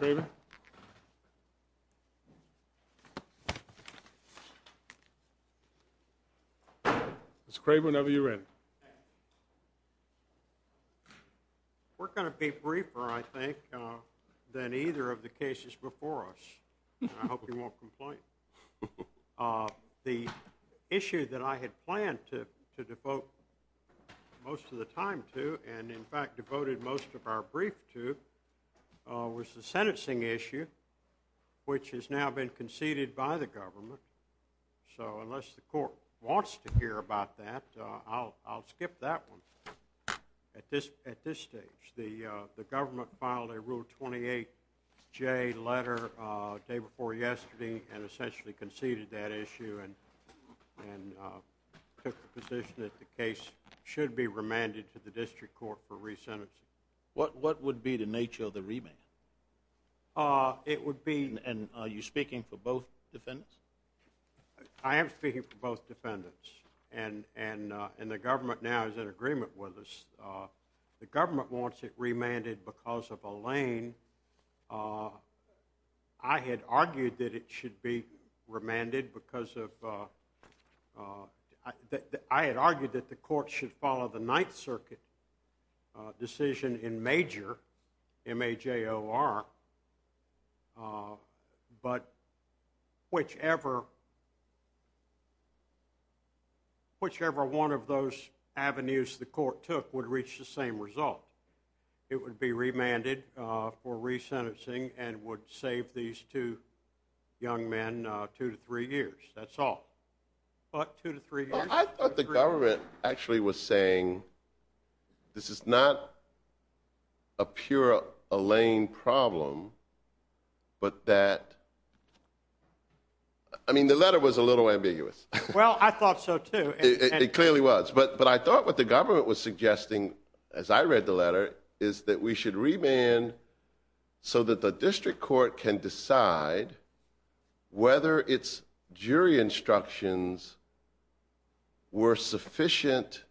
Mr. Craven, Mr. Craven, over to you, Ed. We're going to be briefer, I think, than either of the cases before us. I hope you won't complain. The issue that I had planned to devote most of the time to, and in fact devoted most of our brief to, was the sentencing issue, which has now been conceded by the government. So unless the court wants to hear about that, I'll skip that one at this stage. The government filed a Rule 28J letter the day before yesterday and essentially conceded that issue and took the position that the case should be remanded to the district court for re-sentencing. What would be the nature of the remand? It would be... And are you speaking for both defendants? I am speaking for both defendants, and the government now is in agreement with us. The I had argued that it should be remanded because of... I had argued that the court should follow the Ninth Circuit decision in major, M-A-J-O-R, but whichever one of those avenues the court took would reach the same result. It would be remanded for re-sentencing and would save these two young men two to three years. That's all. But two to three years... Well, I thought the government actually was saying this is not a pure Alain problem, but that... I mean, the letter was a little ambiguous. Well, I thought so, too. It clearly was. But I thought what the government was suggesting, as I read the letter, is that we should remand so that the district court can decide whether its jury instructions were sufficient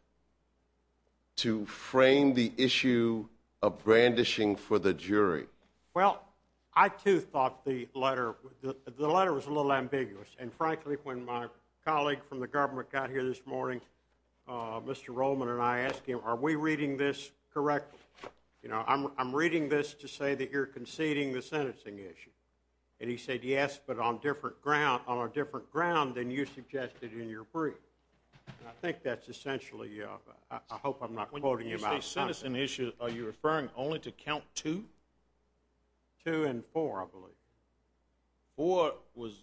to frame the issue of brandishing for the jury. Well, I, too, thought the letter was a little ambiguous. And frankly, when my colleague from the government got here this morning, Mr. Rollman and I asked him, are we reading this correctly? You know, I'm reading this to say that you're conceding the sentencing issue. And he said, yes, but on a different ground than you suggested in your brief. And I think that's essentially... I hope I'm not quoting you... When you say sentencing issue, are you referring only to count two? Two and four, I believe. Four was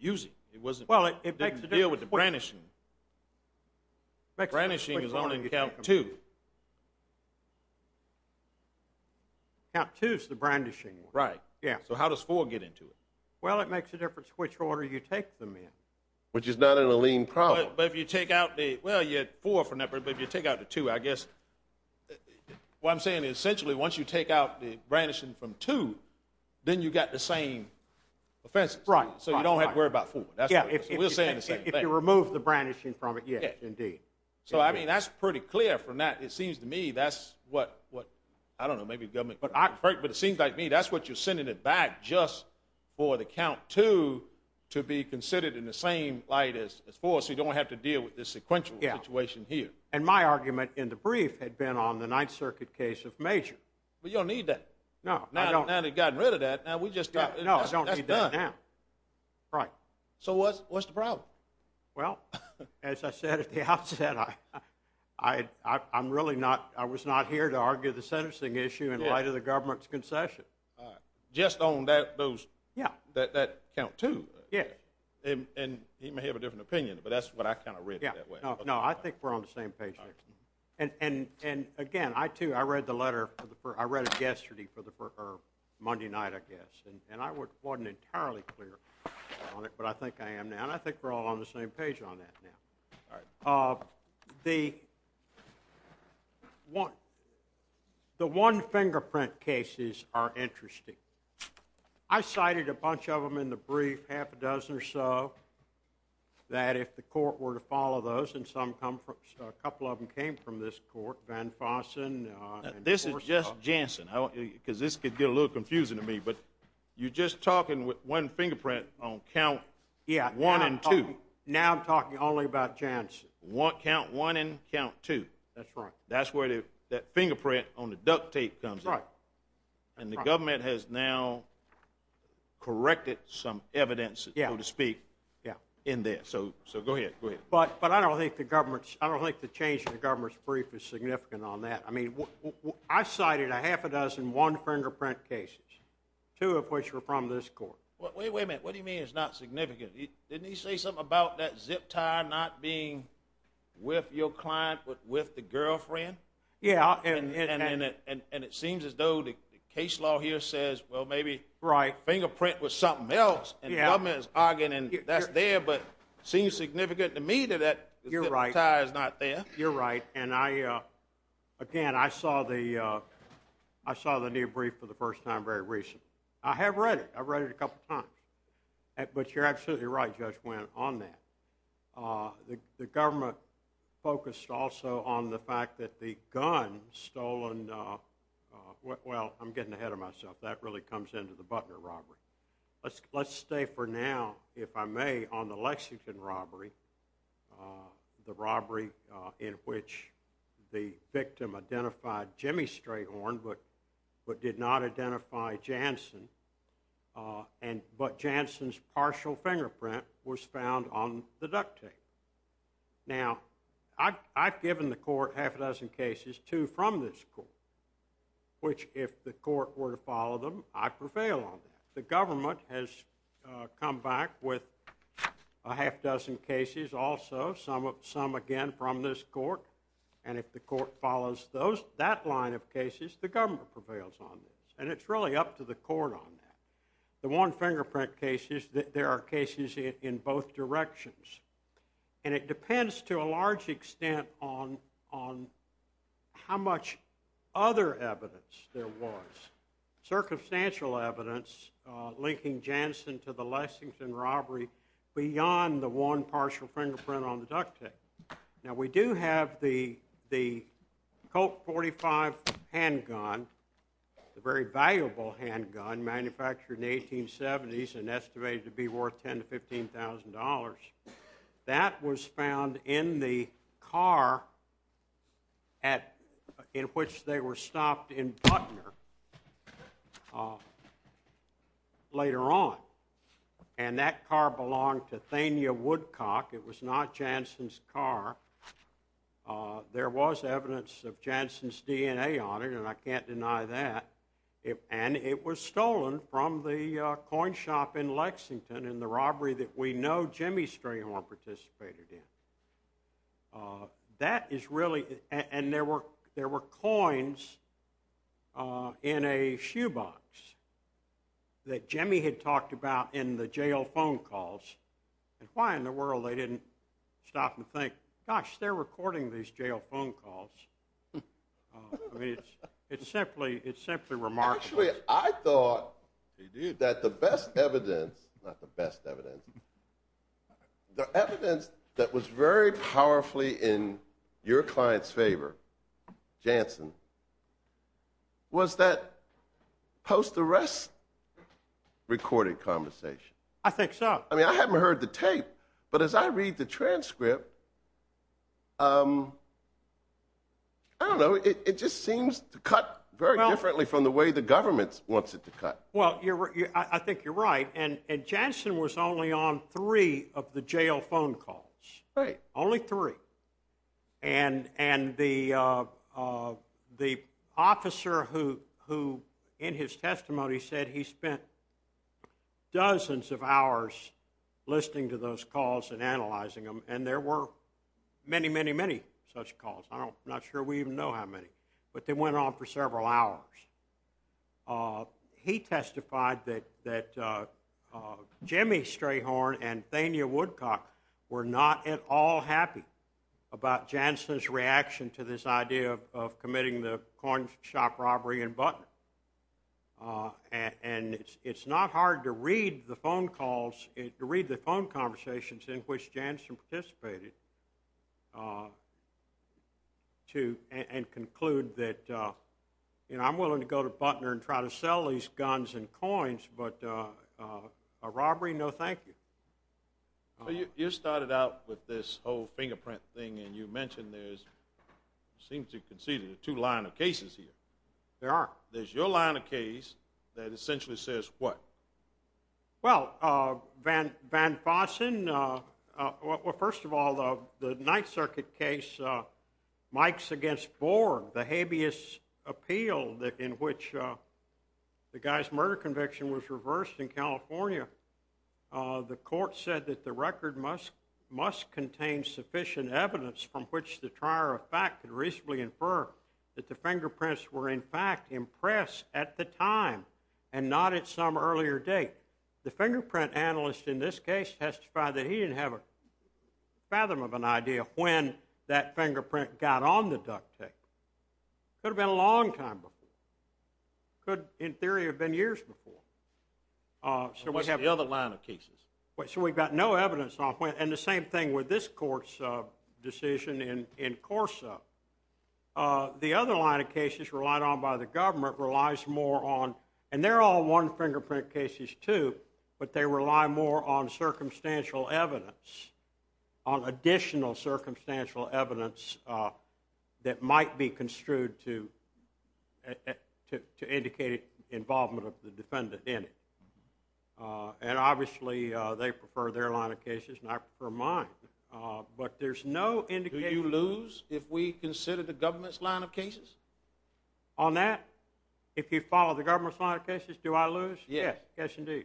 using. It wasn't... Well, it makes a difference. It didn't deal with the brandishing. Brandishing is only in count two. Count two is the brandishing one. Right. Yeah. So how does four get into it? Well, it makes a difference which order you take them in. Which is not an Alene problem. But if you take out the... Well, you had four from that, but if you take out the two, I guess... What I'm saying is, essentially, once you take out the brandishing from two, then you've got the same offenses. Right. So you don't have to worry about four. Yeah. We're saying the same thing. If you remove the brandishing from it, yes, indeed. So, I mean, that's pretty clear from that. It seems to me that's what... I don't know, maybe the government... But it seems like to me that's what you're sending it back just for the count two to be considered in the same light as four, so you don't have to deal with this sequential situation here. Yeah. And my argument in the brief had been on the Ninth Circuit case of major. But you don't need that. No, I don't. Now that you've gotten rid of that, now we just... No, I don't need that now. That's done. Right. So what's the problem? Well, as I said at the outset, I'm really not... I was not here to argue the sentencing issue in light of the government's concession. All right. Just on those... Yeah. That count two. Yeah. And he may have a different opinion, but that's what I kind of read it that way. Yeah. No, I think we're on the same page here. All right. And again, I, too, I read the letter... I read it yesterday or Monday night, I guess. And I wasn't entirely clear on it, but I think I am now. And I think we're all on the same page on that now. All right. The one fingerprint cases are interesting. I cited a bunch of them in the brief, half a dozen or so, that if the court were to follow those, and a couple of them came from this court, Van Fossen... This is just Jansen, because this could get a little confusing to me. But you're just talking with one fingerprint on count one and two. Now I'm talking only about Jansen. Count one and count two. That's right. That's where that fingerprint on the duct tape comes in. Right. And the government has now corrected some evidence, so to speak, in there. So go ahead. Go ahead. But I don't think the change in the government's brief is significant on that. I mean, I cited a half a dozen one-fingerprint cases, two of which were from this court. Wait a minute. What do you mean it's not significant? Didn't he say something about that zip tie not being with your client but with the girlfriend? Yeah. And it seems as though the case law here says, well, maybe fingerprint was something else. And the government is arguing that's there, but it seems significant to me that that zip tie is not there. You're right. And, again, I saw the new brief for the first time very recently. I have read it. I've read it a couple times. But you're absolutely right, Judge Wendt, on that. The government focused also on the fact that the gun stolen—well, I'm getting ahead of myself. That really comes into the Butler robbery. Let's stay for now, if I may, on the Lexington robbery, the robbery in which the victim identified Jimmy Strayhorn but did not identify Jansen, but Jansen's partial fingerprint was found on the duct tape. Now, I've given the court half a dozen cases, two from this court, which, if the court were to follow them, I prevail on that. The government has come back with a half dozen cases also, some, again, from this court. And if the court follows that line of cases, the government prevails on this. And it's really up to the court on that. The one-fingerprint cases, there are cases in both directions. And it depends to a large extent on how much other evidence there was, circumstantial evidence linking Jansen to the Lexington robbery beyond the one partial fingerprint on the duct tape. Now, we do have the Colt .45 handgun, a very valuable handgun manufactured in the 1870s and estimated to be worth $10,000 to $15,000. That was found in the car in which they were stopped in Butner later on. And that car belonged to Thania Woodcock. It was not Jansen's car. There was evidence of Jansen's DNA on it, and I can't deny that. And it was stolen from the coin shop in Lexington in the robbery that we know Jimmy Strayhorn participated in. That is really—and there were coins in a shoebox that Jimmy had talked about in the jail phone calls. And why in the world they didn't stop and think, gosh, they're recording these jail phone calls. I mean, it's simply remarkable. Actually, I thought that the best evidence—not the best evidence— the evidence that was very powerfully in your client's favor, Jansen, was that post-arrest recording conversation. I think so. I mean, I haven't heard the tape, but as I read the transcript, I don't know, it just seems to cut very differently from the way the government wants it to cut. Well, I think you're right. And Jansen was only on three of the jail phone calls. Right. Only three. And the officer who, in his testimony, said he spent dozens of hours listening to those calls and analyzing them. And there were many, many, many such calls. I'm not sure we even know how many. But they went on for several hours. He testified that Jimmy Strayhorn and Thania Woodcock were not at all happy about Jansen's reaction to this idea of committing the coin shop robbery in Butner. And it's not hard to read the phone calls— to read the phone conversations in which Jansen participated and conclude that, you know, I'm willing to go to Butner and try to sell these guns and coins, but a robbery, no thank you. You started out with this whole fingerprint thing, and you mentioned there's— it seems you conceded there are two line of cases here. There are. There's your line of case that essentially says what? Well, Van Fossen— well, first of all, the Ninth Circuit case, Mike's against Borg, the habeas appeal in which the guy's murder conviction was reversed in California. The court said that the record must contain sufficient evidence from which the trier of fact could reasonably infer that the fingerprints were, in fact, impressed at the time and not at some earlier date. The fingerprint analyst in this case testified that he didn't have a fathom of an idea when that fingerprint got on the duct tape. Could have been a long time before. Could, in theory, have been years before. What's the other line of cases? So we've got no evidence on when— and the same thing with this court's decision in Corso. The other line of cases relied on by the government relies more on— and they're all one-fingerprint cases, too, but they rely more on circumstantial evidence, on additional circumstantial evidence that might be construed to indicate involvement of the defendant in it. And obviously they prefer their line of cases, and I prefer mine. But there's no indication— Do you lose if we consider the government's line of cases? On that? If you follow the government's line of cases, do I lose? Yes. Yes, indeed.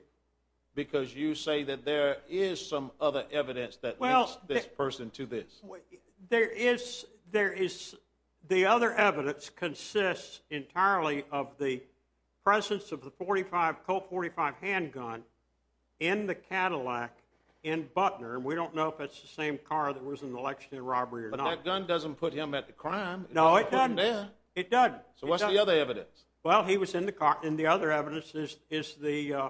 Because you say that there is some other evidence that links this person to this. There is. The other evidence consists entirely of the presence of the Colt .45 handgun in the Cadillac in Butner, and we don't know if it's the same car that was in the election and robbery or not. But that gun doesn't put him at the crime. No, it doesn't. It doesn't. So what's the other evidence? Well, he was in the car. And the other evidence is the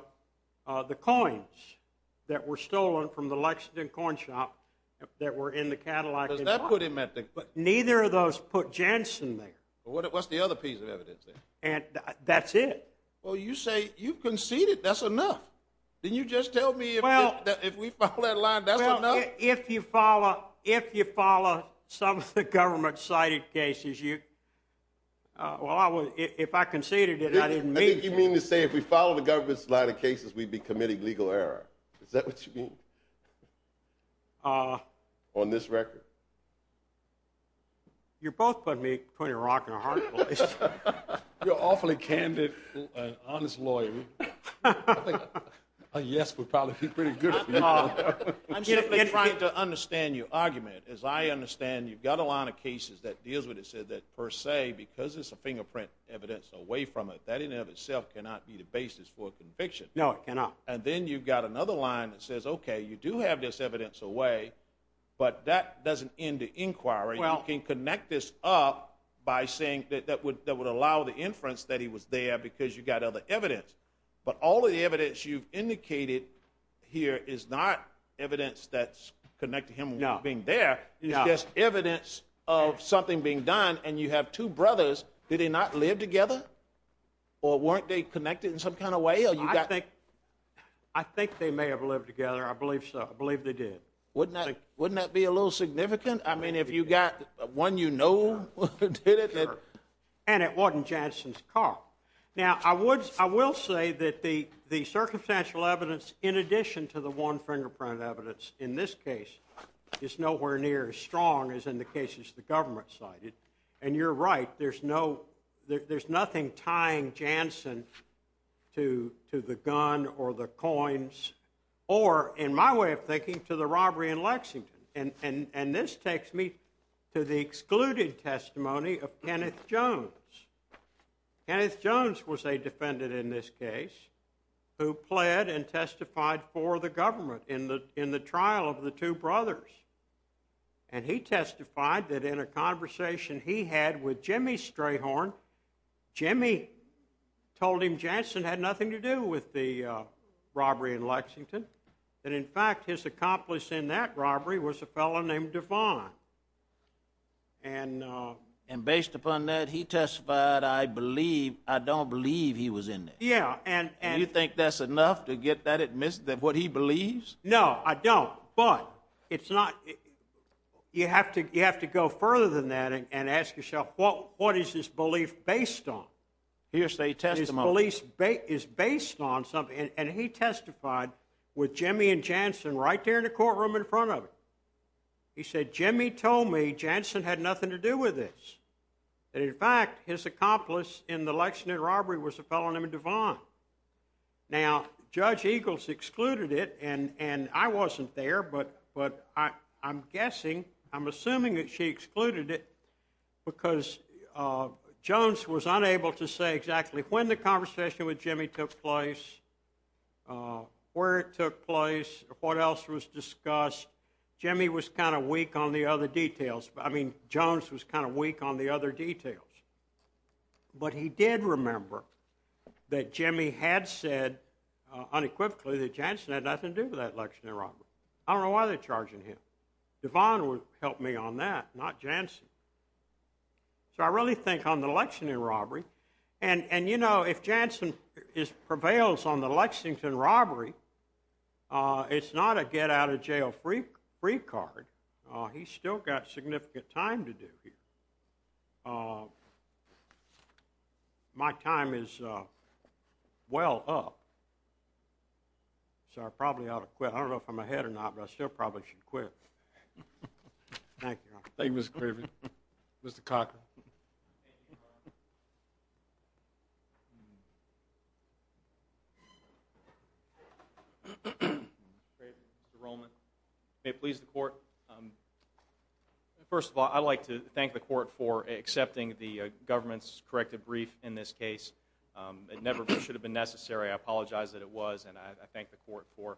coins that were stolen from the Lexington corn shop that were in the Cadillac in Butner. Does that put him at the— Neither of those put Jensen there. What's the other piece of evidence then? That's it. Well, you say you've conceded. That's enough. Didn't you just tell me if we follow that line, that's enough? Well, if you follow some of the government-cited cases, well, if I conceded it, I didn't mean to. I think you mean to say if we follow the government-cited cases, we'd be committing legal error. Is that what you mean? On this record? You're both putting me pretty rockin' hard, at least. You're awfully candid and an honest lawyer. I think a yes would probably be pretty good for you. I'm simply trying to understand your argument. As I understand, you've got a line of cases that deals with it, so that per se, because it's a fingerprint evidence away from it, that in and of itself cannot be the basis for a conviction. No, it cannot. And then you've got another line that says, okay, you do have this evidence away, but that doesn't end the inquiry. You can connect this up by saying that would allow the inference that he was there because you've got other evidence. But all of the evidence you've indicated here is not evidence that's connected to him being there. No. It's just evidence of something being done, and you have two brothers. Did they not live together? Or weren't they connected in some kind of way? I think they may have lived together. I believe so. I believe they did. Wouldn't that be a little significant? I mean, if you've got one you know who did it. And it wasn't Jansen's car. Now, I will say that the circumstantial evidence, in addition to the one-fingerprint evidence in this case, is nowhere near as strong as in the cases the government cited. And you're right. There's nothing tying Jansen to the gun or the coins or, in my way of thinking, to the robbery in Lexington. And this takes me to the excluded testimony of Kenneth Jones. Kenneth Jones was a defendant in this case who pled and testified for the government in the trial of the two brothers. And he testified that in a conversation he had with Jimmy Strayhorn, Jimmy told him Jansen had nothing to do with the robbery in Lexington, that, in fact, his accomplice in that robbery was a fellow named Devon. And based upon that, he testified, I don't believe he was in there. Do you think that's enough to get that what he believes? No, I don't. But you have to go further than that and ask yourself, what is his belief based on? His belief is based on something. And he testified with Jimmy and Jansen right there in the courtroom in front of him. He said, Jimmy told me Jansen had nothing to do with this, that, in fact, his accomplice in the Lexington robbery was a fellow named Devon. Now, Judge Eagles excluded it, and I wasn't there, but I'm guessing, I'm assuming that she excluded it because Jones was unable to say exactly when the conversation with Jimmy took place, where it took place, what else was discussed. Jimmy was kind of weak on the other details. I mean, Jones was kind of weak on the other details. But he did remember that Jimmy had said unequivocally that Jansen had nothing to do with that Lexington robbery. I don't know why they're charging him. Devon would help me on that, not Jansen. So I really think on the Lexington robbery, and, you know, if Jansen prevails on the Lexington robbery, it's not a get-out-of-jail-free card. He's still got significant time to do here. My time is well up, so I probably ought to quit. I don't know if I'm ahead or not, but I still probably should quit. Thank you. Thank you, Mr. Craven. Mr. Cockrell. Mr. Craven, Mr. Rollman. May it please the Court. First of all, I'd like to thank the Court for accepting the government's corrective brief in this case. It never should have been necessary. I apologize that it was, and I thank the Court for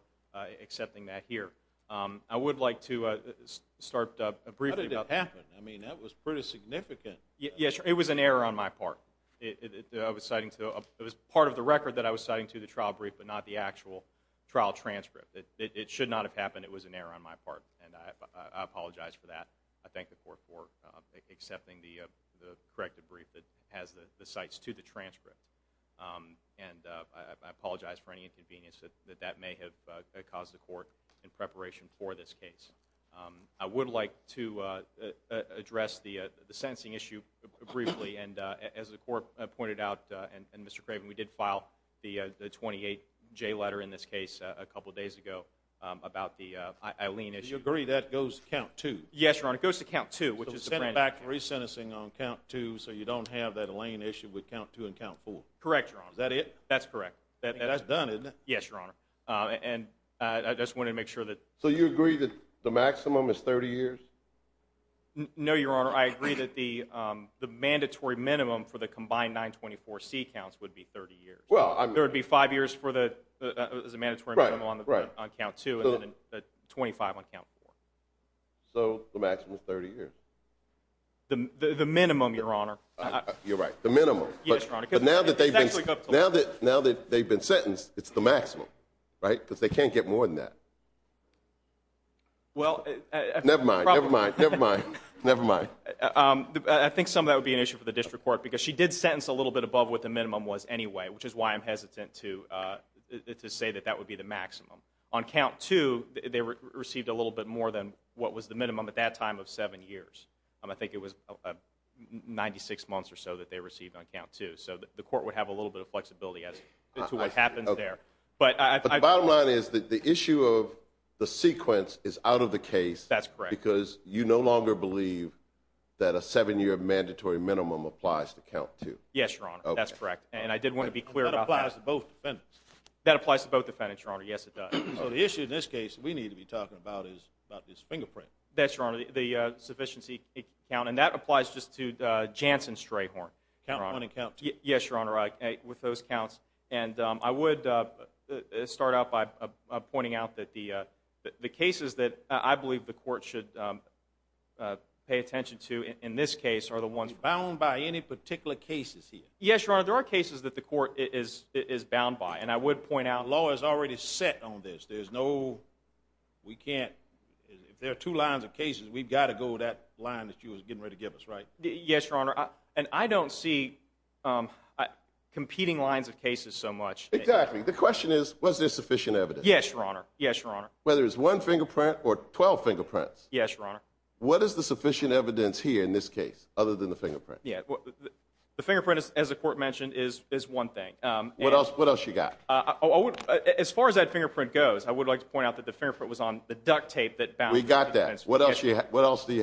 accepting that here. I would like to start briefly about... How did it happen? I mean, that was pretty significant. Yes, it was an error on my part. It was part of the record that I was citing to the trial brief, but not the actual trial transcript. It should not have happened. It was an error on my part, and I apologize for that. I thank the Court for accepting the corrective brief that has the cites to the transcript, and I apologize for any inconvenience that that may have caused the Court in preparation for this case. I would like to address the sentencing issue briefly, and as the Court pointed out, and Mr. Craven, we did file the 28J letter in this case a couple of days ago about the Eileen issue. Do you agree that goes to count two? Yes, Your Honor, it goes to count two. So it's sent back to re-sentencing on count two so you don't have that Elaine issue with count two and count four. Correct, Your Honor. Is that it? That's correct. That's done, isn't it? Yes, Your Honor. And I just wanted to make sure that— So you agree that the maximum is 30 years? No, Your Honor, I agree that the mandatory minimum for the combined 924C counts would be 30 years. There would be five years as a mandatory minimum on count two and then 25 on count four. So the maximum is 30 years? The minimum, Your Honor. You're right, the minimum. Yes, Your Honor. Now that they've been sentenced, it's the maximum, right? Because they can't get more than that. Never mind, never mind, never mind, never mind. I think some of that would be an issue for the district court because she did sentence a little bit above what the minimum was anyway, which is why I'm hesitant to say that that would be the maximum. On count two, they received a little bit more than what was the minimum at that time of seven years. I think it was 96 months or so that they received on count two. So the court would have a little bit of flexibility as to what happens there. But the bottom line is that the issue of the sequence is out of the case because you no longer believe that a seven-year mandatory minimum applies to count two. Yes, Your Honor, that's correct. And I did want to be clear about that. That applies to both defendants. That applies to both defendants, Your Honor. Yes, it does. So the issue in this case we need to be talking about is about this fingerprint. That's right, Your Honor, the sufficiency count. And that applies just to Jansen Strayhorn, Your Honor. Count one and count two. Yes, Your Honor, with those counts. And I would start out by pointing out that the cases that I believe the court should pay attention to in this case are the ones... Bound by any particular cases here? Yes, Your Honor, there are cases that the court is bound by. And I would point out... The law is already set on this. There's no... We can't... If there are two lines of cases, we've got to go with that line that you were getting ready to give us, right? Yes, Your Honor. And I don't see competing lines of cases so much. Exactly. The question is, was there sufficient evidence? Yes, Your Honor. Yes, Your Honor. Whether it's one fingerprint or 12 fingerprints. Yes, Your Honor. What is the sufficient evidence here in this case, other than the fingerprint? The fingerprint, as the court mentioned, is one thing. What else you got? As far as that fingerprint goes, I would like to point out that the fingerprint was on the duct tape that bound... We got that. What else do you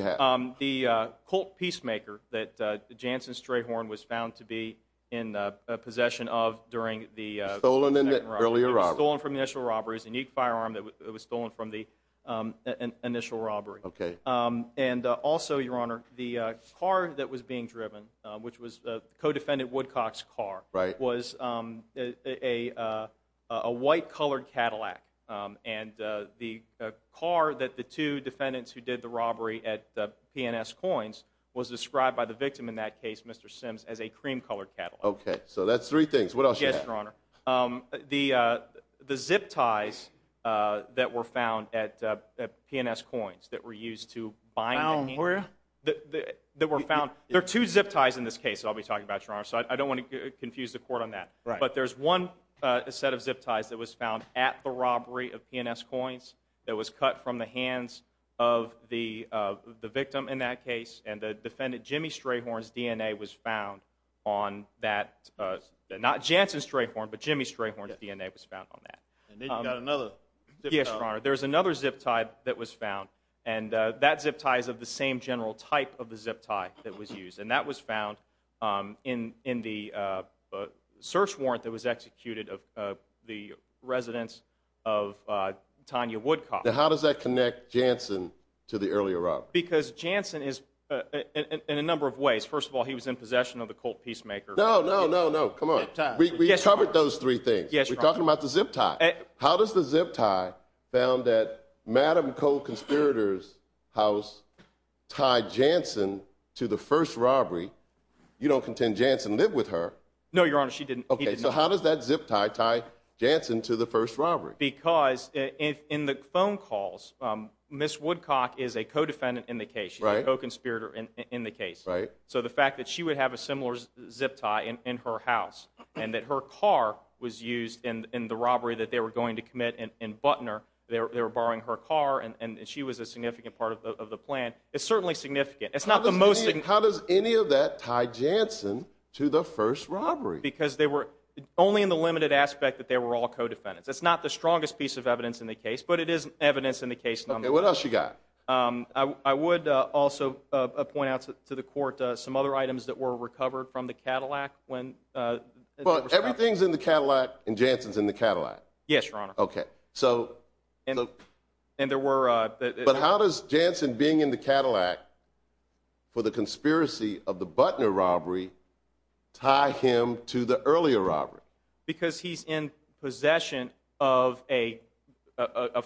have? The Colt Peacemaker that Jansen Strayhorn was found to be in possession of during the... Was stolen in the earlier robbery. It was stolen from the initial robbery. It was a unique firearm that was stolen from the initial robbery. Okay. And also, Your Honor, the car that was being driven, which was co-defendant Woodcock's car... Right. Was a white-colored Cadillac. And the car that the two defendants who did the robbery at P&S Coins was described by the victim in that case, Mr. Sims, as a cream-colored Cadillac. Okay. So, that's three things. What else do you have? Yes, Your Honor. The zip ties that were found at P&S Coins that were used to bind... Bound where? That were found... There are two zip ties in this case that I'll be talking about, Your Honor. So, I don't want to confuse the court on that. Right. But, there's one set of zip ties that was found at the robbery of P&S Coins that was cut from the hands of the victim in that case. And the defendant Jimmy Strayhorn's DNA was found on that. Not Jansen Strayhorn, but Jimmy Strayhorn's DNA was found on that. And then you've got another zip tie. Yes, Your Honor. There's another zip tie that was found. And that zip tie is of the same general type of the zip tie that was used. And that was found in the search warrant that was executed of the residence of Tanya Woodcock. Now, how does that connect Jansen to the earlier robbery? Because Jansen is... in a number of ways. First of all, he was in possession of the Colt Peacemaker. No, no, no, no. Come on. We covered those three things. Yes, Your Honor. We're talking about the zip tie. How does the zip tie found at Madame Cole Conspirator's house tie Jansen to the first robbery? You don't contend Jansen lived with her. No, Your Honor. She didn't. Okay. So, how does that zip tie tie Jansen to the first robbery? Because in the phone calls, Miss Woodcock is a co-defendant in the case. Right. She's a co-conspirator in the case. Right. So, the fact that she would have a similar zip tie in her house and that her car was used in the robbery that they were going to commit in Butner, they were borrowing her car and she was a significant part of the plan, it's certainly significant. It's not the most... How does any of that tie Jansen to the first robbery? Because they were... only in the limited aspect that they were all co-defendants. It's not the strongest piece of evidence in the case, but it is evidence in the case. Okay. What else you got? I would also point out to the court some other items that were recovered from the Cadillac when... But everything's in the Cadillac and Jansen's in the Cadillac. Yes, Your Honor. Okay. So... And there were... But how does Jansen being in the Cadillac for the conspiracy of the Butner robbery tie him to the earlier robbery? Because he's in possession of a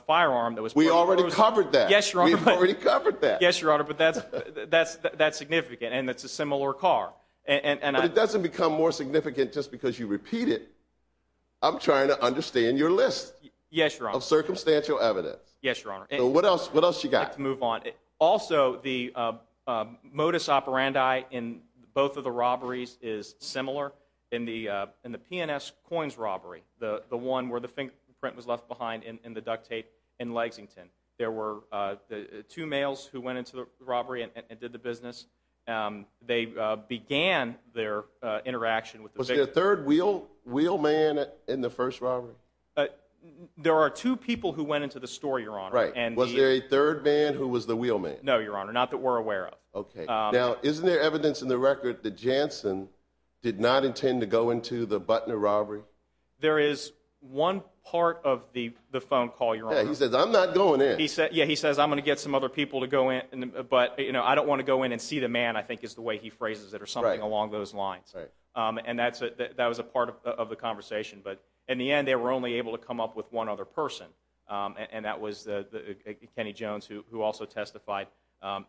firearm that was... We already covered that. Yes, Your Honor. We've already covered that. Yes, Your Honor, but that's significant and it's a similar car. But it doesn't become more significant just because you repeat it. I'm trying to understand your list... Yes, Your Honor.... of circumstantial evidence. Yes, Your Honor. So what else you got? I'd like to move on. Also, the modus operandi in both of the robberies is similar. In the P&S Coins robbery, the one where the fingerprint was left behind in the duct tape in Lexington, there were two males who went into the robbery and did the business. They began their interaction with the victim. Was there a third wheelman in the first robbery? There are two people who went into the store, Your Honor. Right. Was there a third man who was the wheelman? No, Your Honor. Not that we're aware of. Okay. Now, isn't there evidence in the record that Jansen did not intend to go into the Butner robbery? There is one part of the phone call, Your Honor. Yeah, he says, I'm not going in. Yeah, he says, I'm going to get some other people to go in, but I don't want to go in and see the man, I think is the way he phrases it or something along those lines. Right. And that was a part of the conversation. But in the end, they were only able to come up with one other person, and that was Kenny Jones, who also testified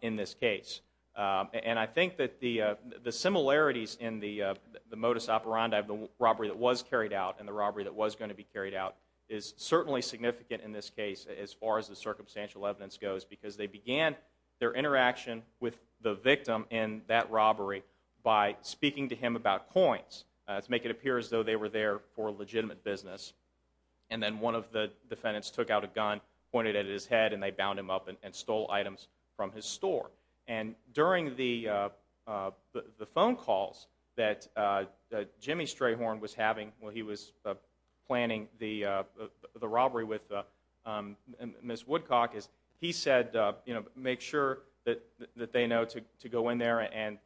in this case. And I think that the similarities in the modus operandi of the robbery that was carried out and the robbery that was going to be carried out is certainly significant in this case as far as the circumstantial evidence goes, because they began their interaction with the victim in that robbery by speaking to him about coins to make it appear as though they were there for legitimate business. And then one of the defendants took out a gun, pointed it at his head, and they bound him up and stole items from his store. And during the phone calls that Jimmy Strayhorn was having when he was planning the robbery with Ms. Woodcock, he said, you know, make sure that they know to go in there and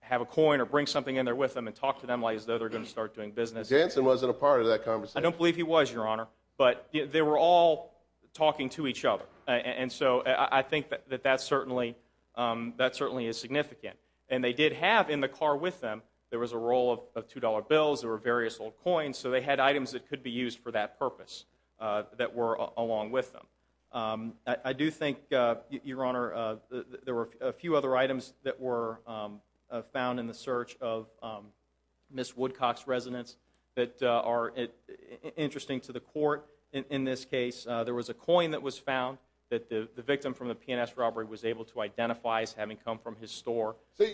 have a coin or bring something in there with them and talk to them as though they're going to start doing business. Jansen wasn't a part of that conversation. I don't believe he was, Your Honor, but they were all talking to each other. And so I think that that certainly is significant. And they did have in the car with them, there was a roll of $2 bills, there were various little coins, so they had items that could be used for that purpose that were along with them. I do think, Your Honor, there were a few other items that were found in the search of Ms. Woodcock's residence that are interesting to the court in this case. There was a coin that was found that the victim from the P&S robbery was able to identify as having come from his store. So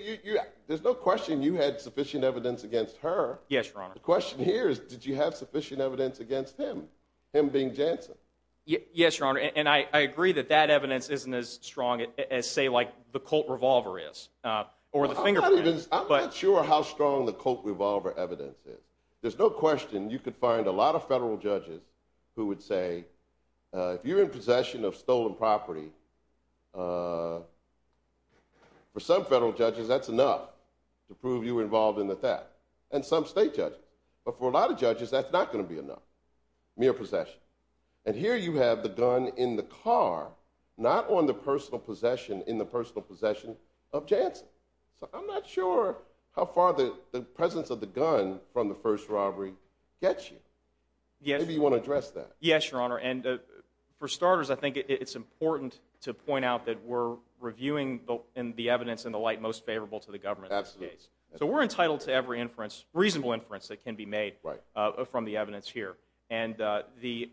there's no question you had sufficient evidence against her. Yes, Your Honor. The question here is did you have sufficient evidence against him, him being Jansen? Yes, Your Honor, and I agree that that evidence isn't as strong as, say, like the Colt revolver is or the fingerprint is. I'm not sure how strong the Colt revolver evidence is. There's no question you could find a lot of federal judges who would say, if you're in possession of stolen property, for some federal judges that's enough to prove you were involved in the theft and some state judges, but for a lot of judges that's not going to be enough, mere possession. And here you have the gun in the car, not in the personal possession of Jansen. So I'm not sure how far the presence of the gun from the first robbery gets you. Maybe you want to address that. Yes, Your Honor, and for starters, I think it's important to point out that we're reviewing the evidence in the light most favorable to the government in this case. So we're entitled to every inference, reasonable inference that can be made from the evidence here. And the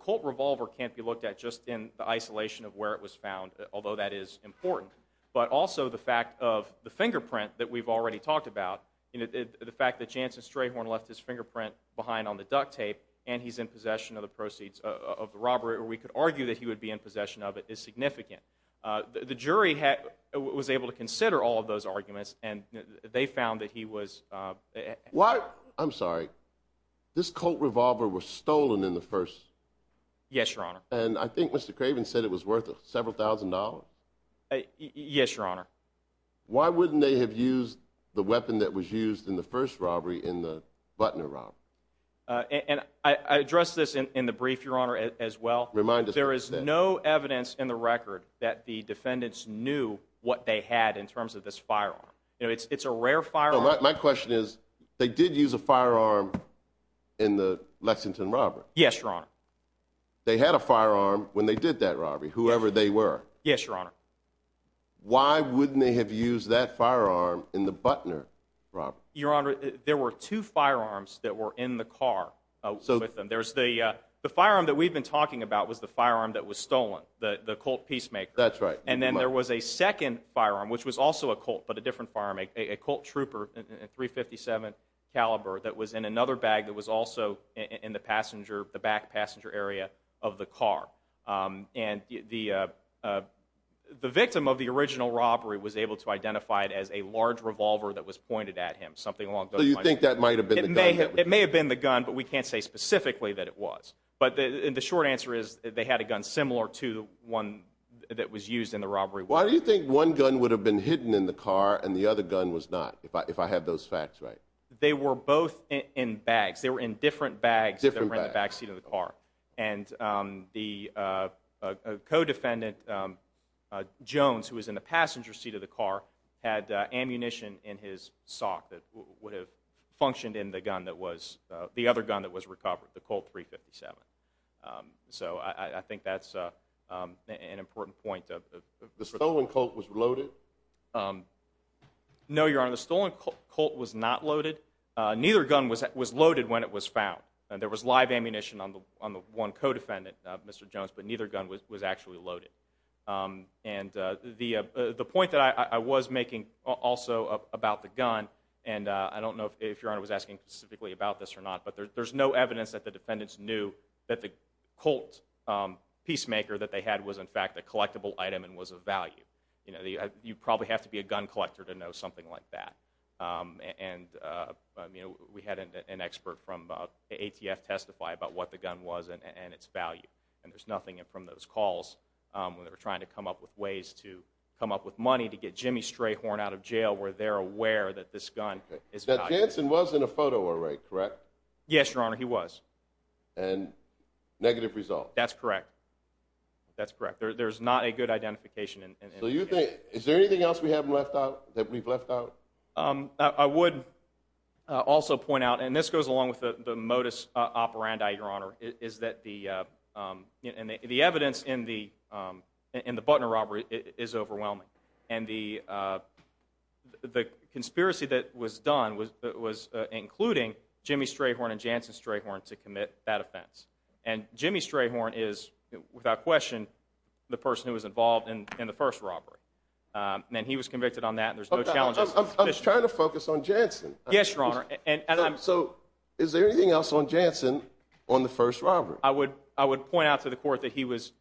Colt revolver can't be looked at just in the isolation of where it was found, although that is important. But also the fact of the fingerprint that we've already talked about, the fact that Jansen Strayhorn left his fingerprint behind on the duct tape and he's in possession of the proceeds of the robbery, or we could argue that he would be in possession of it, is significant. The jury was able to consider all of those arguments, and they found that he was... I'm sorry, this Colt revolver was stolen in the first... Yes, Your Honor. And I think Mr. Craven said it was worth several thousand dollars. Yes, Your Honor. Why wouldn't they have used the weapon that was used in the first robbery in the Butner robbery? And I addressed this in the brief, Your Honor, as well. Remind us. There is no evidence in the record that the defendants knew what they had in terms of this firearm. It's a rare firearm. My question is, they did use a firearm in the Lexington robbery. Yes, Your Honor. They had a firearm when they did that robbery, whoever they were. Yes, Your Honor. Why wouldn't they have used that firearm in the Butner robbery? Your Honor, there were two firearms that were in the car with them. The firearm that we've been talking about was the firearm that was stolen, the Colt Peacemaker. That's right. And then there was a second firearm, which was also a Colt but a different firearm, a Colt Trooper .357 caliber that was in another bag that was also in the back passenger area of the car. And the victim of the original robbery was able to identify it as a large revolver that was pointed at him, something along those lines. So you think that might have been the gun? It may have been the gun, but we can't say specifically that it was. But the short answer is they had a gun similar to the one that was used in the robbery. Why do you think one gun would have been hidden in the car and the other gun was not, if I have those facts right? They were both in bags. They were in different bags that were in the back seat of the car. And the co-defendant, Jones, who was in the passenger seat of the car, had ammunition in his sock that would have functioned in the other gun that was recovered, the Colt .357. So I think that's an important point. The stolen Colt was loaded? No, Your Honor, the stolen Colt was not loaded. Neither gun was loaded when it was found. There was live ammunition on the one co-defendant, Mr. Jones, but neither gun was actually loaded. And the point that I was making also about the gun, and I don't know if Your Honor was asking specifically about this or not, but there's no evidence that the defendants knew that the Colt peacemaker that they had was in fact a collectible item and was of value. You probably have to be a gun collector to know something like that. And we had an expert from ATF testify about what the gun was and its value. And there's nothing from those calls when they were trying to come up with ways to come up with money to get Jimmy Strayhorn out of jail where they're aware that this gun is not good. That Jansen was in a photo array, correct? Yes, Your Honor, he was. And negative result? That's correct. That's correct. There's not a good identification. So you think, is there anything else we haven't left out, that we've left out? I would also point out, and this goes along with the modus operandi, Your Honor, is that the evidence in the Butner robbery is overwhelming. And the conspiracy that was done was including Jimmy Strayhorn and Jansen Strayhorn to commit that offense. And Jimmy Strayhorn is, without question, the person who was involved in the first robbery. And he was convicted on that. I was trying to focus on Jansen. Yes, Your Honor. So is there anything else on Jansen on the first robbery? I would point out to the court that he was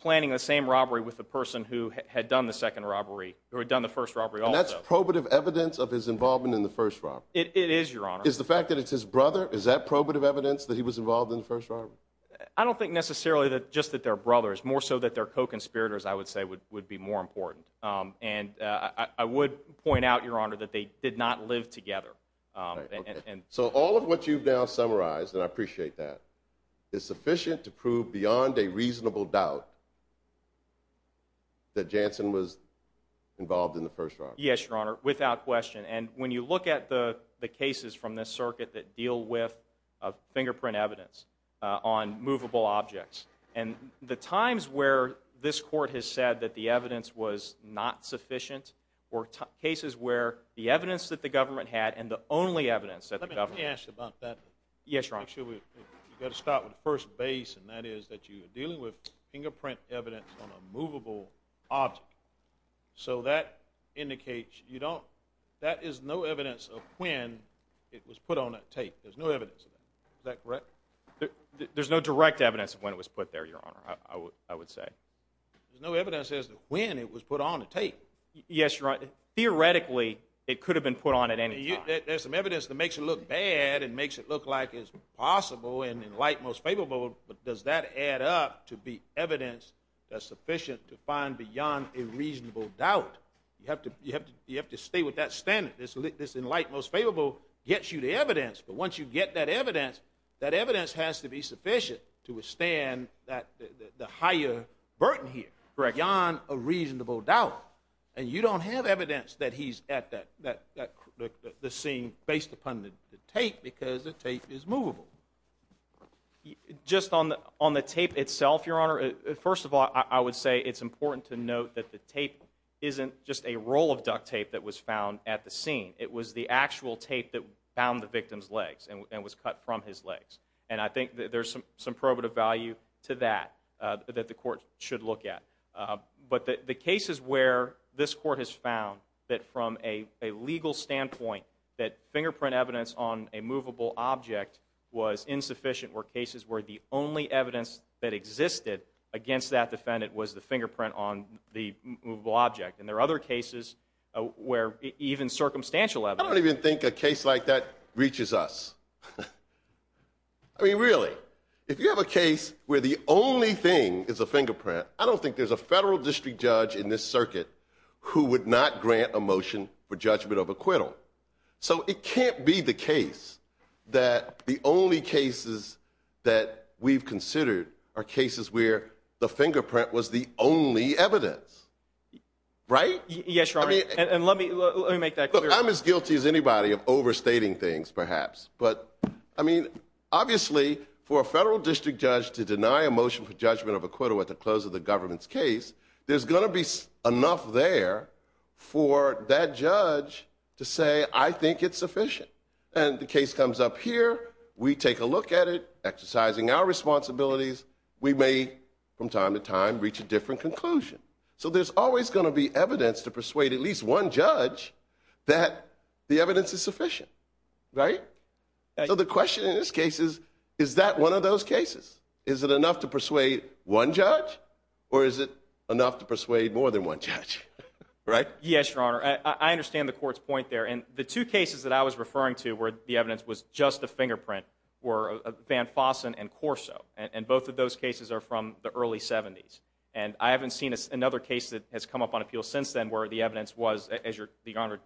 planning the same robbery with the person who had done the second robbery, who had done the first robbery also. And that's probative evidence of his involvement in the first robbery? It is, Your Honor. Is the fact that it's his brother, is that probative evidence that he was involved in the first robbery? I don't think necessarily just that they're brothers. More so that they're co-conspirators, I would say, would be more important. And I would point out, Your Honor, that they did not live together. So all of what you've now summarized, and I appreciate that, is sufficient to prove beyond a reasonable doubt that Jansen was involved in the first robbery? Yes, Your Honor, without question. And when you look at the cases from this circuit that deal with fingerprint evidence on movable objects, and the times where this court has said that the evidence was not sufficient were cases where the evidence that the government had and the only evidence that the government had. Let me ask you about that. Yes, Your Honor. You've got to start with the first base, and that is that you're dealing with fingerprint evidence on a movable object. So that indicates you don't, that is no evidence of when it was put on that tape. There's no evidence of that. Is that correct? There's no direct evidence of when it was put there, Your Honor, I would say. There's no evidence as to when it was put on the tape. Yes, Your Honor. Theoretically, it could have been put on at any time. There's some evidence that makes it look bad and makes it look like it's possible and in light most favorable, but does that add up to be evidence that's sufficient to find beyond a reasonable doubt? You have to stay with that standard. This in light most favorable gets you the evidence, but once you get that evidence, that evidence has to be sufficient to withstand the higher burden here, beyond a reasonable doubt, and you don't have evidence that he's at the scene based upon the tape because the tape is movable. Just on the tape itself, Your Honor, first of all, I would say it's important to note that the tape isn't just a roll of duct tape that was found at the scene. It was the actual tape that found the victim's legs and was cut from his legs, and I think there's some probative value to that that the court should look at. But the cases where this court has found that from a legal standpoint, that fingerprint evidence on a movable object was insufficient were cases where the only evidence that existed against that defendant was the fingerprint on the movable object, and there are other cases where even circumstantial evidence. I don't even think a case like that reaches us. I mean, really, if you have a case where the only thing is a fingerprint, I don't think there's a federal district judge in this circuit who would not grant a motion for judgment of acquittal. So it can't be the case that the only cases that we've considered are cases where the fingerprint was the only evidence, right? Yes, Your Honor, and let me make that clear. Look, I'm as guilty as anybody of overstating things perhaps, but I mean, obviously for a federal district judge to deny a motion for judgment of acquittal at the close of the government's case, there's going to be enough there for that judge to say, I think it's sufficient. And the case comes up here. We take a look at it, exercising our responsibilities. We may from time to time reach a different conclusion. So there's always going to be evidence to persuade at least one judge that the evidence is sufficient. Right. So the question in this case is, is that one of those cases? Is it enough to persuade one judge or is it enough to persuade more than one judge? Right. Yes, Your Honor. I understand the court's point there. And the two cases that I was referring to where the evidence was just a fingerprint were Van Fossen and Corso. And both of those cases are from the early 70s. And I haven't seen another case that has come up on appeal since then, where the evidence was, as Your Honor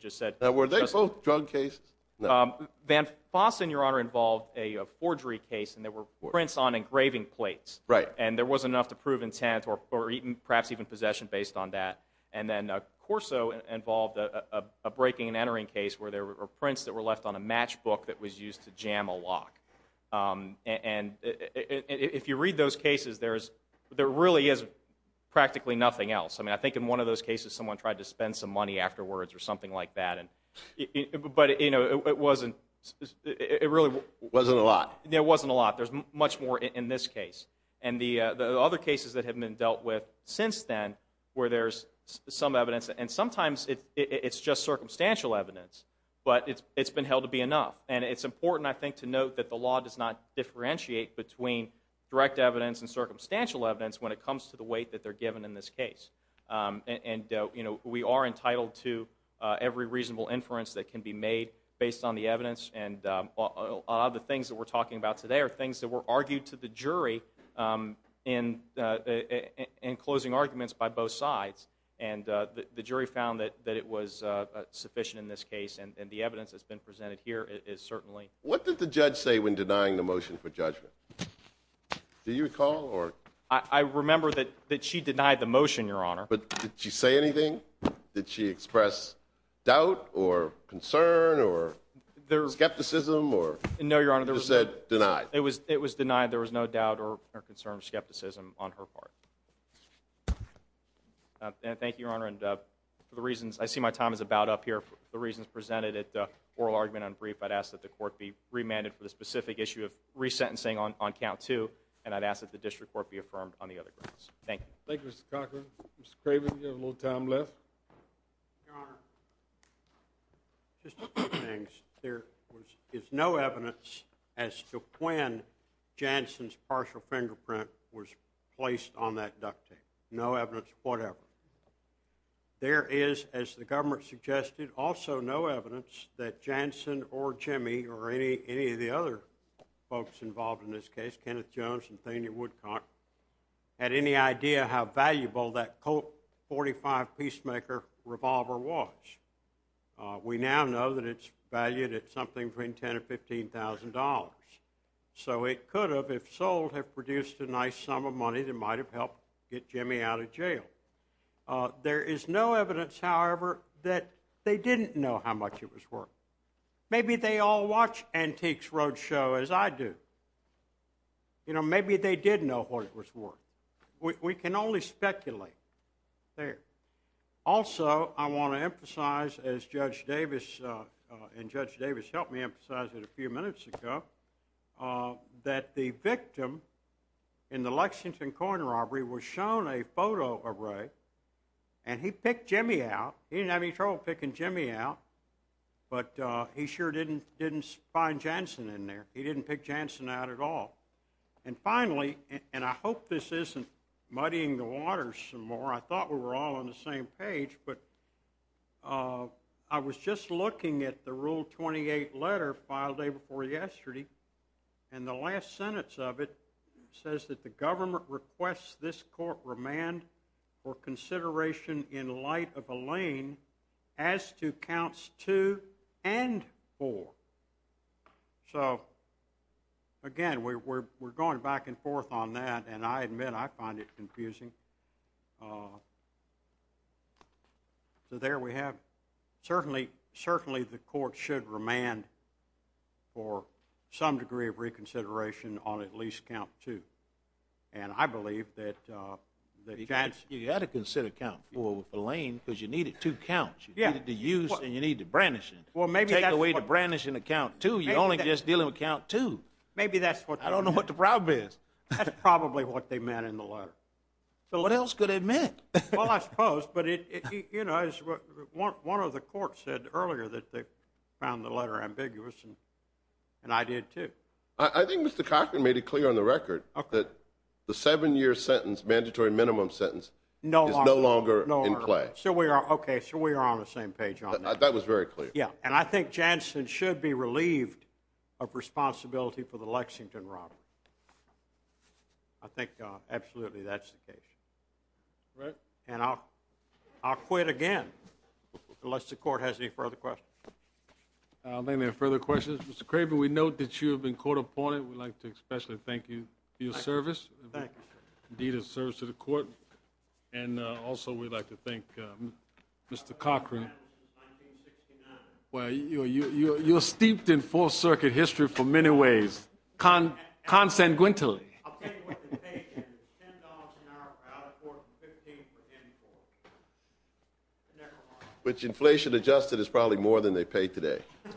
just said. Were they both drug cases? Van Fossen, Your Honor, involved a forgery case and there were prints on engraving plates. Right. And there wasn't enough to prove intent or perhaps even possession based on that. And then Corso involved a breaking and entering case where there were prints that were left on a matchbook that was used to jam a lock. And if you read those cases, there really is practically nothing else. I mean, I think in one of those cases, someone tried to spend some money afterwards or something like that. But, you know, it wasn't, it really wasn't a lot. There wasn't a lot. There's much more in this case. And the other cases that have been dealt with since then where there's some evidence and sometimes it's just circumstantial evidence, but it's been held to be enough. And it's important, I think, to note that the law does not differentiate between direct evidence and circumstantial evidence when it comes to the weight that they're given in this case. And, you know, we are entitled to every reasonable inference that can be made based on the evidence. And a lot of the things that we're talking about today are things that were argued to the jury in closing arguments by both sides. And the jury found that it was sufficient in this case. And the evidence that's been presented here is certainly. What did the judge say when denying the motion for judgment? Do you recall or? I remember that she denied the motion, Your Honor. But did she say anything? Did she express doubt or concern or skepticism or? No, Your Honor. You just said denied. It was denied. There was no doubt or concern or skepticism on her part. Thank you, Your Honor. And for the reasons, I see my time is about up here. For the reasons presented at the oral argument and brief, I'd ask that the court be remanded for the specific issue of resentencing on count two. And I'd ask that the district court be affirmed on the other grounds. Thank you. Thank you, Mr. Cochran. Mr. Craven, you have a little time left. Your Honor, just two things. There is no evidence as to when Jansen's partial fingerprint was placed on that duct tape. No evidence whatever. There is, as the government suggested, also no evidence that Jansen or Jimmy or any of the other folks involved in this case, Kenneth Jones and Thaney Woodcock, had any idea how valuable that Colt .45 Peacemaker revolver was. We now know that it's valued at something between $10,000 and $15,000. So it could have, if sold, have produced a nice sum of money that might have helped get Jimmy out of jail. There is no evidence, however, that they didn't know how much it was worth. Maybe they all watch Antiques Roadshow, as I do. You know, maybe they did know what it was worth. We can only speculate there. Also, I want to emphasize, as Judge Davis and Judge Davis helped me emphasize it a few minutes ago, that the victim in the Lexington coin robbery was shown a photo array, and he picked Jimmy out. He didn't have any trouble picking Jimmy out, but he sure didn't find Jansen in there. He didn't pick Jansen out at all. And finally, and I hope this isn't muddying the waters some more. I thought we were all on the same page, but I was just looking at the Rule 28 letter filed the day before yesterday, and the last sentence of it says that the government requests this court remand for consideration in light of Elaine as to counts 2 and 4. So, again, we're going back and forth on that, and I admit I find it confusing. So there we have it. Certainly, the court should remand for some degree of reconsideration on at least count 2. And I believe that Jansen— You had to consider count 4 with Elaine because you needed two counts. You needed to use and you needed to brandish it. Well, maybe that's what— Take away the brandishing of count 2. You only just deal him a count 2. Maybe that's what— I don't know what the problem is. That's probably what they meant in the letter. So what else could it mean? Well, I suppose, but, you know, one of the courts said earlier that they found the letter ambiguous, and I did too. I think Mr. Cochran made it clear on the record that the 7-year sentence, mandatory minimum sentence, is no longer in play. No longer. Okay, so we are on the same page on that. That was very clear. Yeah, and I think Jansen should be relieved of responsibility for the Lexington robbery. I think absolutely that's the case. Right. And I'll quit again unless the court has any further questions. I don't think there are further questions. Mr. Craven, we note that you have been court-appointed. We'd like to especially thank you for your service. Thank you, sir. Indeed, it serves to the court. And also we'd like to thank Mr. Cochran. Well, you're steeped in Fourth Circuit history for many ways, consanguently. Which inflation adjusted is probably more than they pay today. You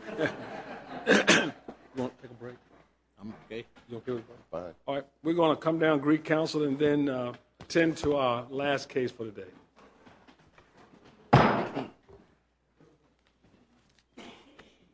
want to take a break? I'm okay. You okay with that? Fine. All right, we're going to come down to Greek Council and then tend to our last case for the day.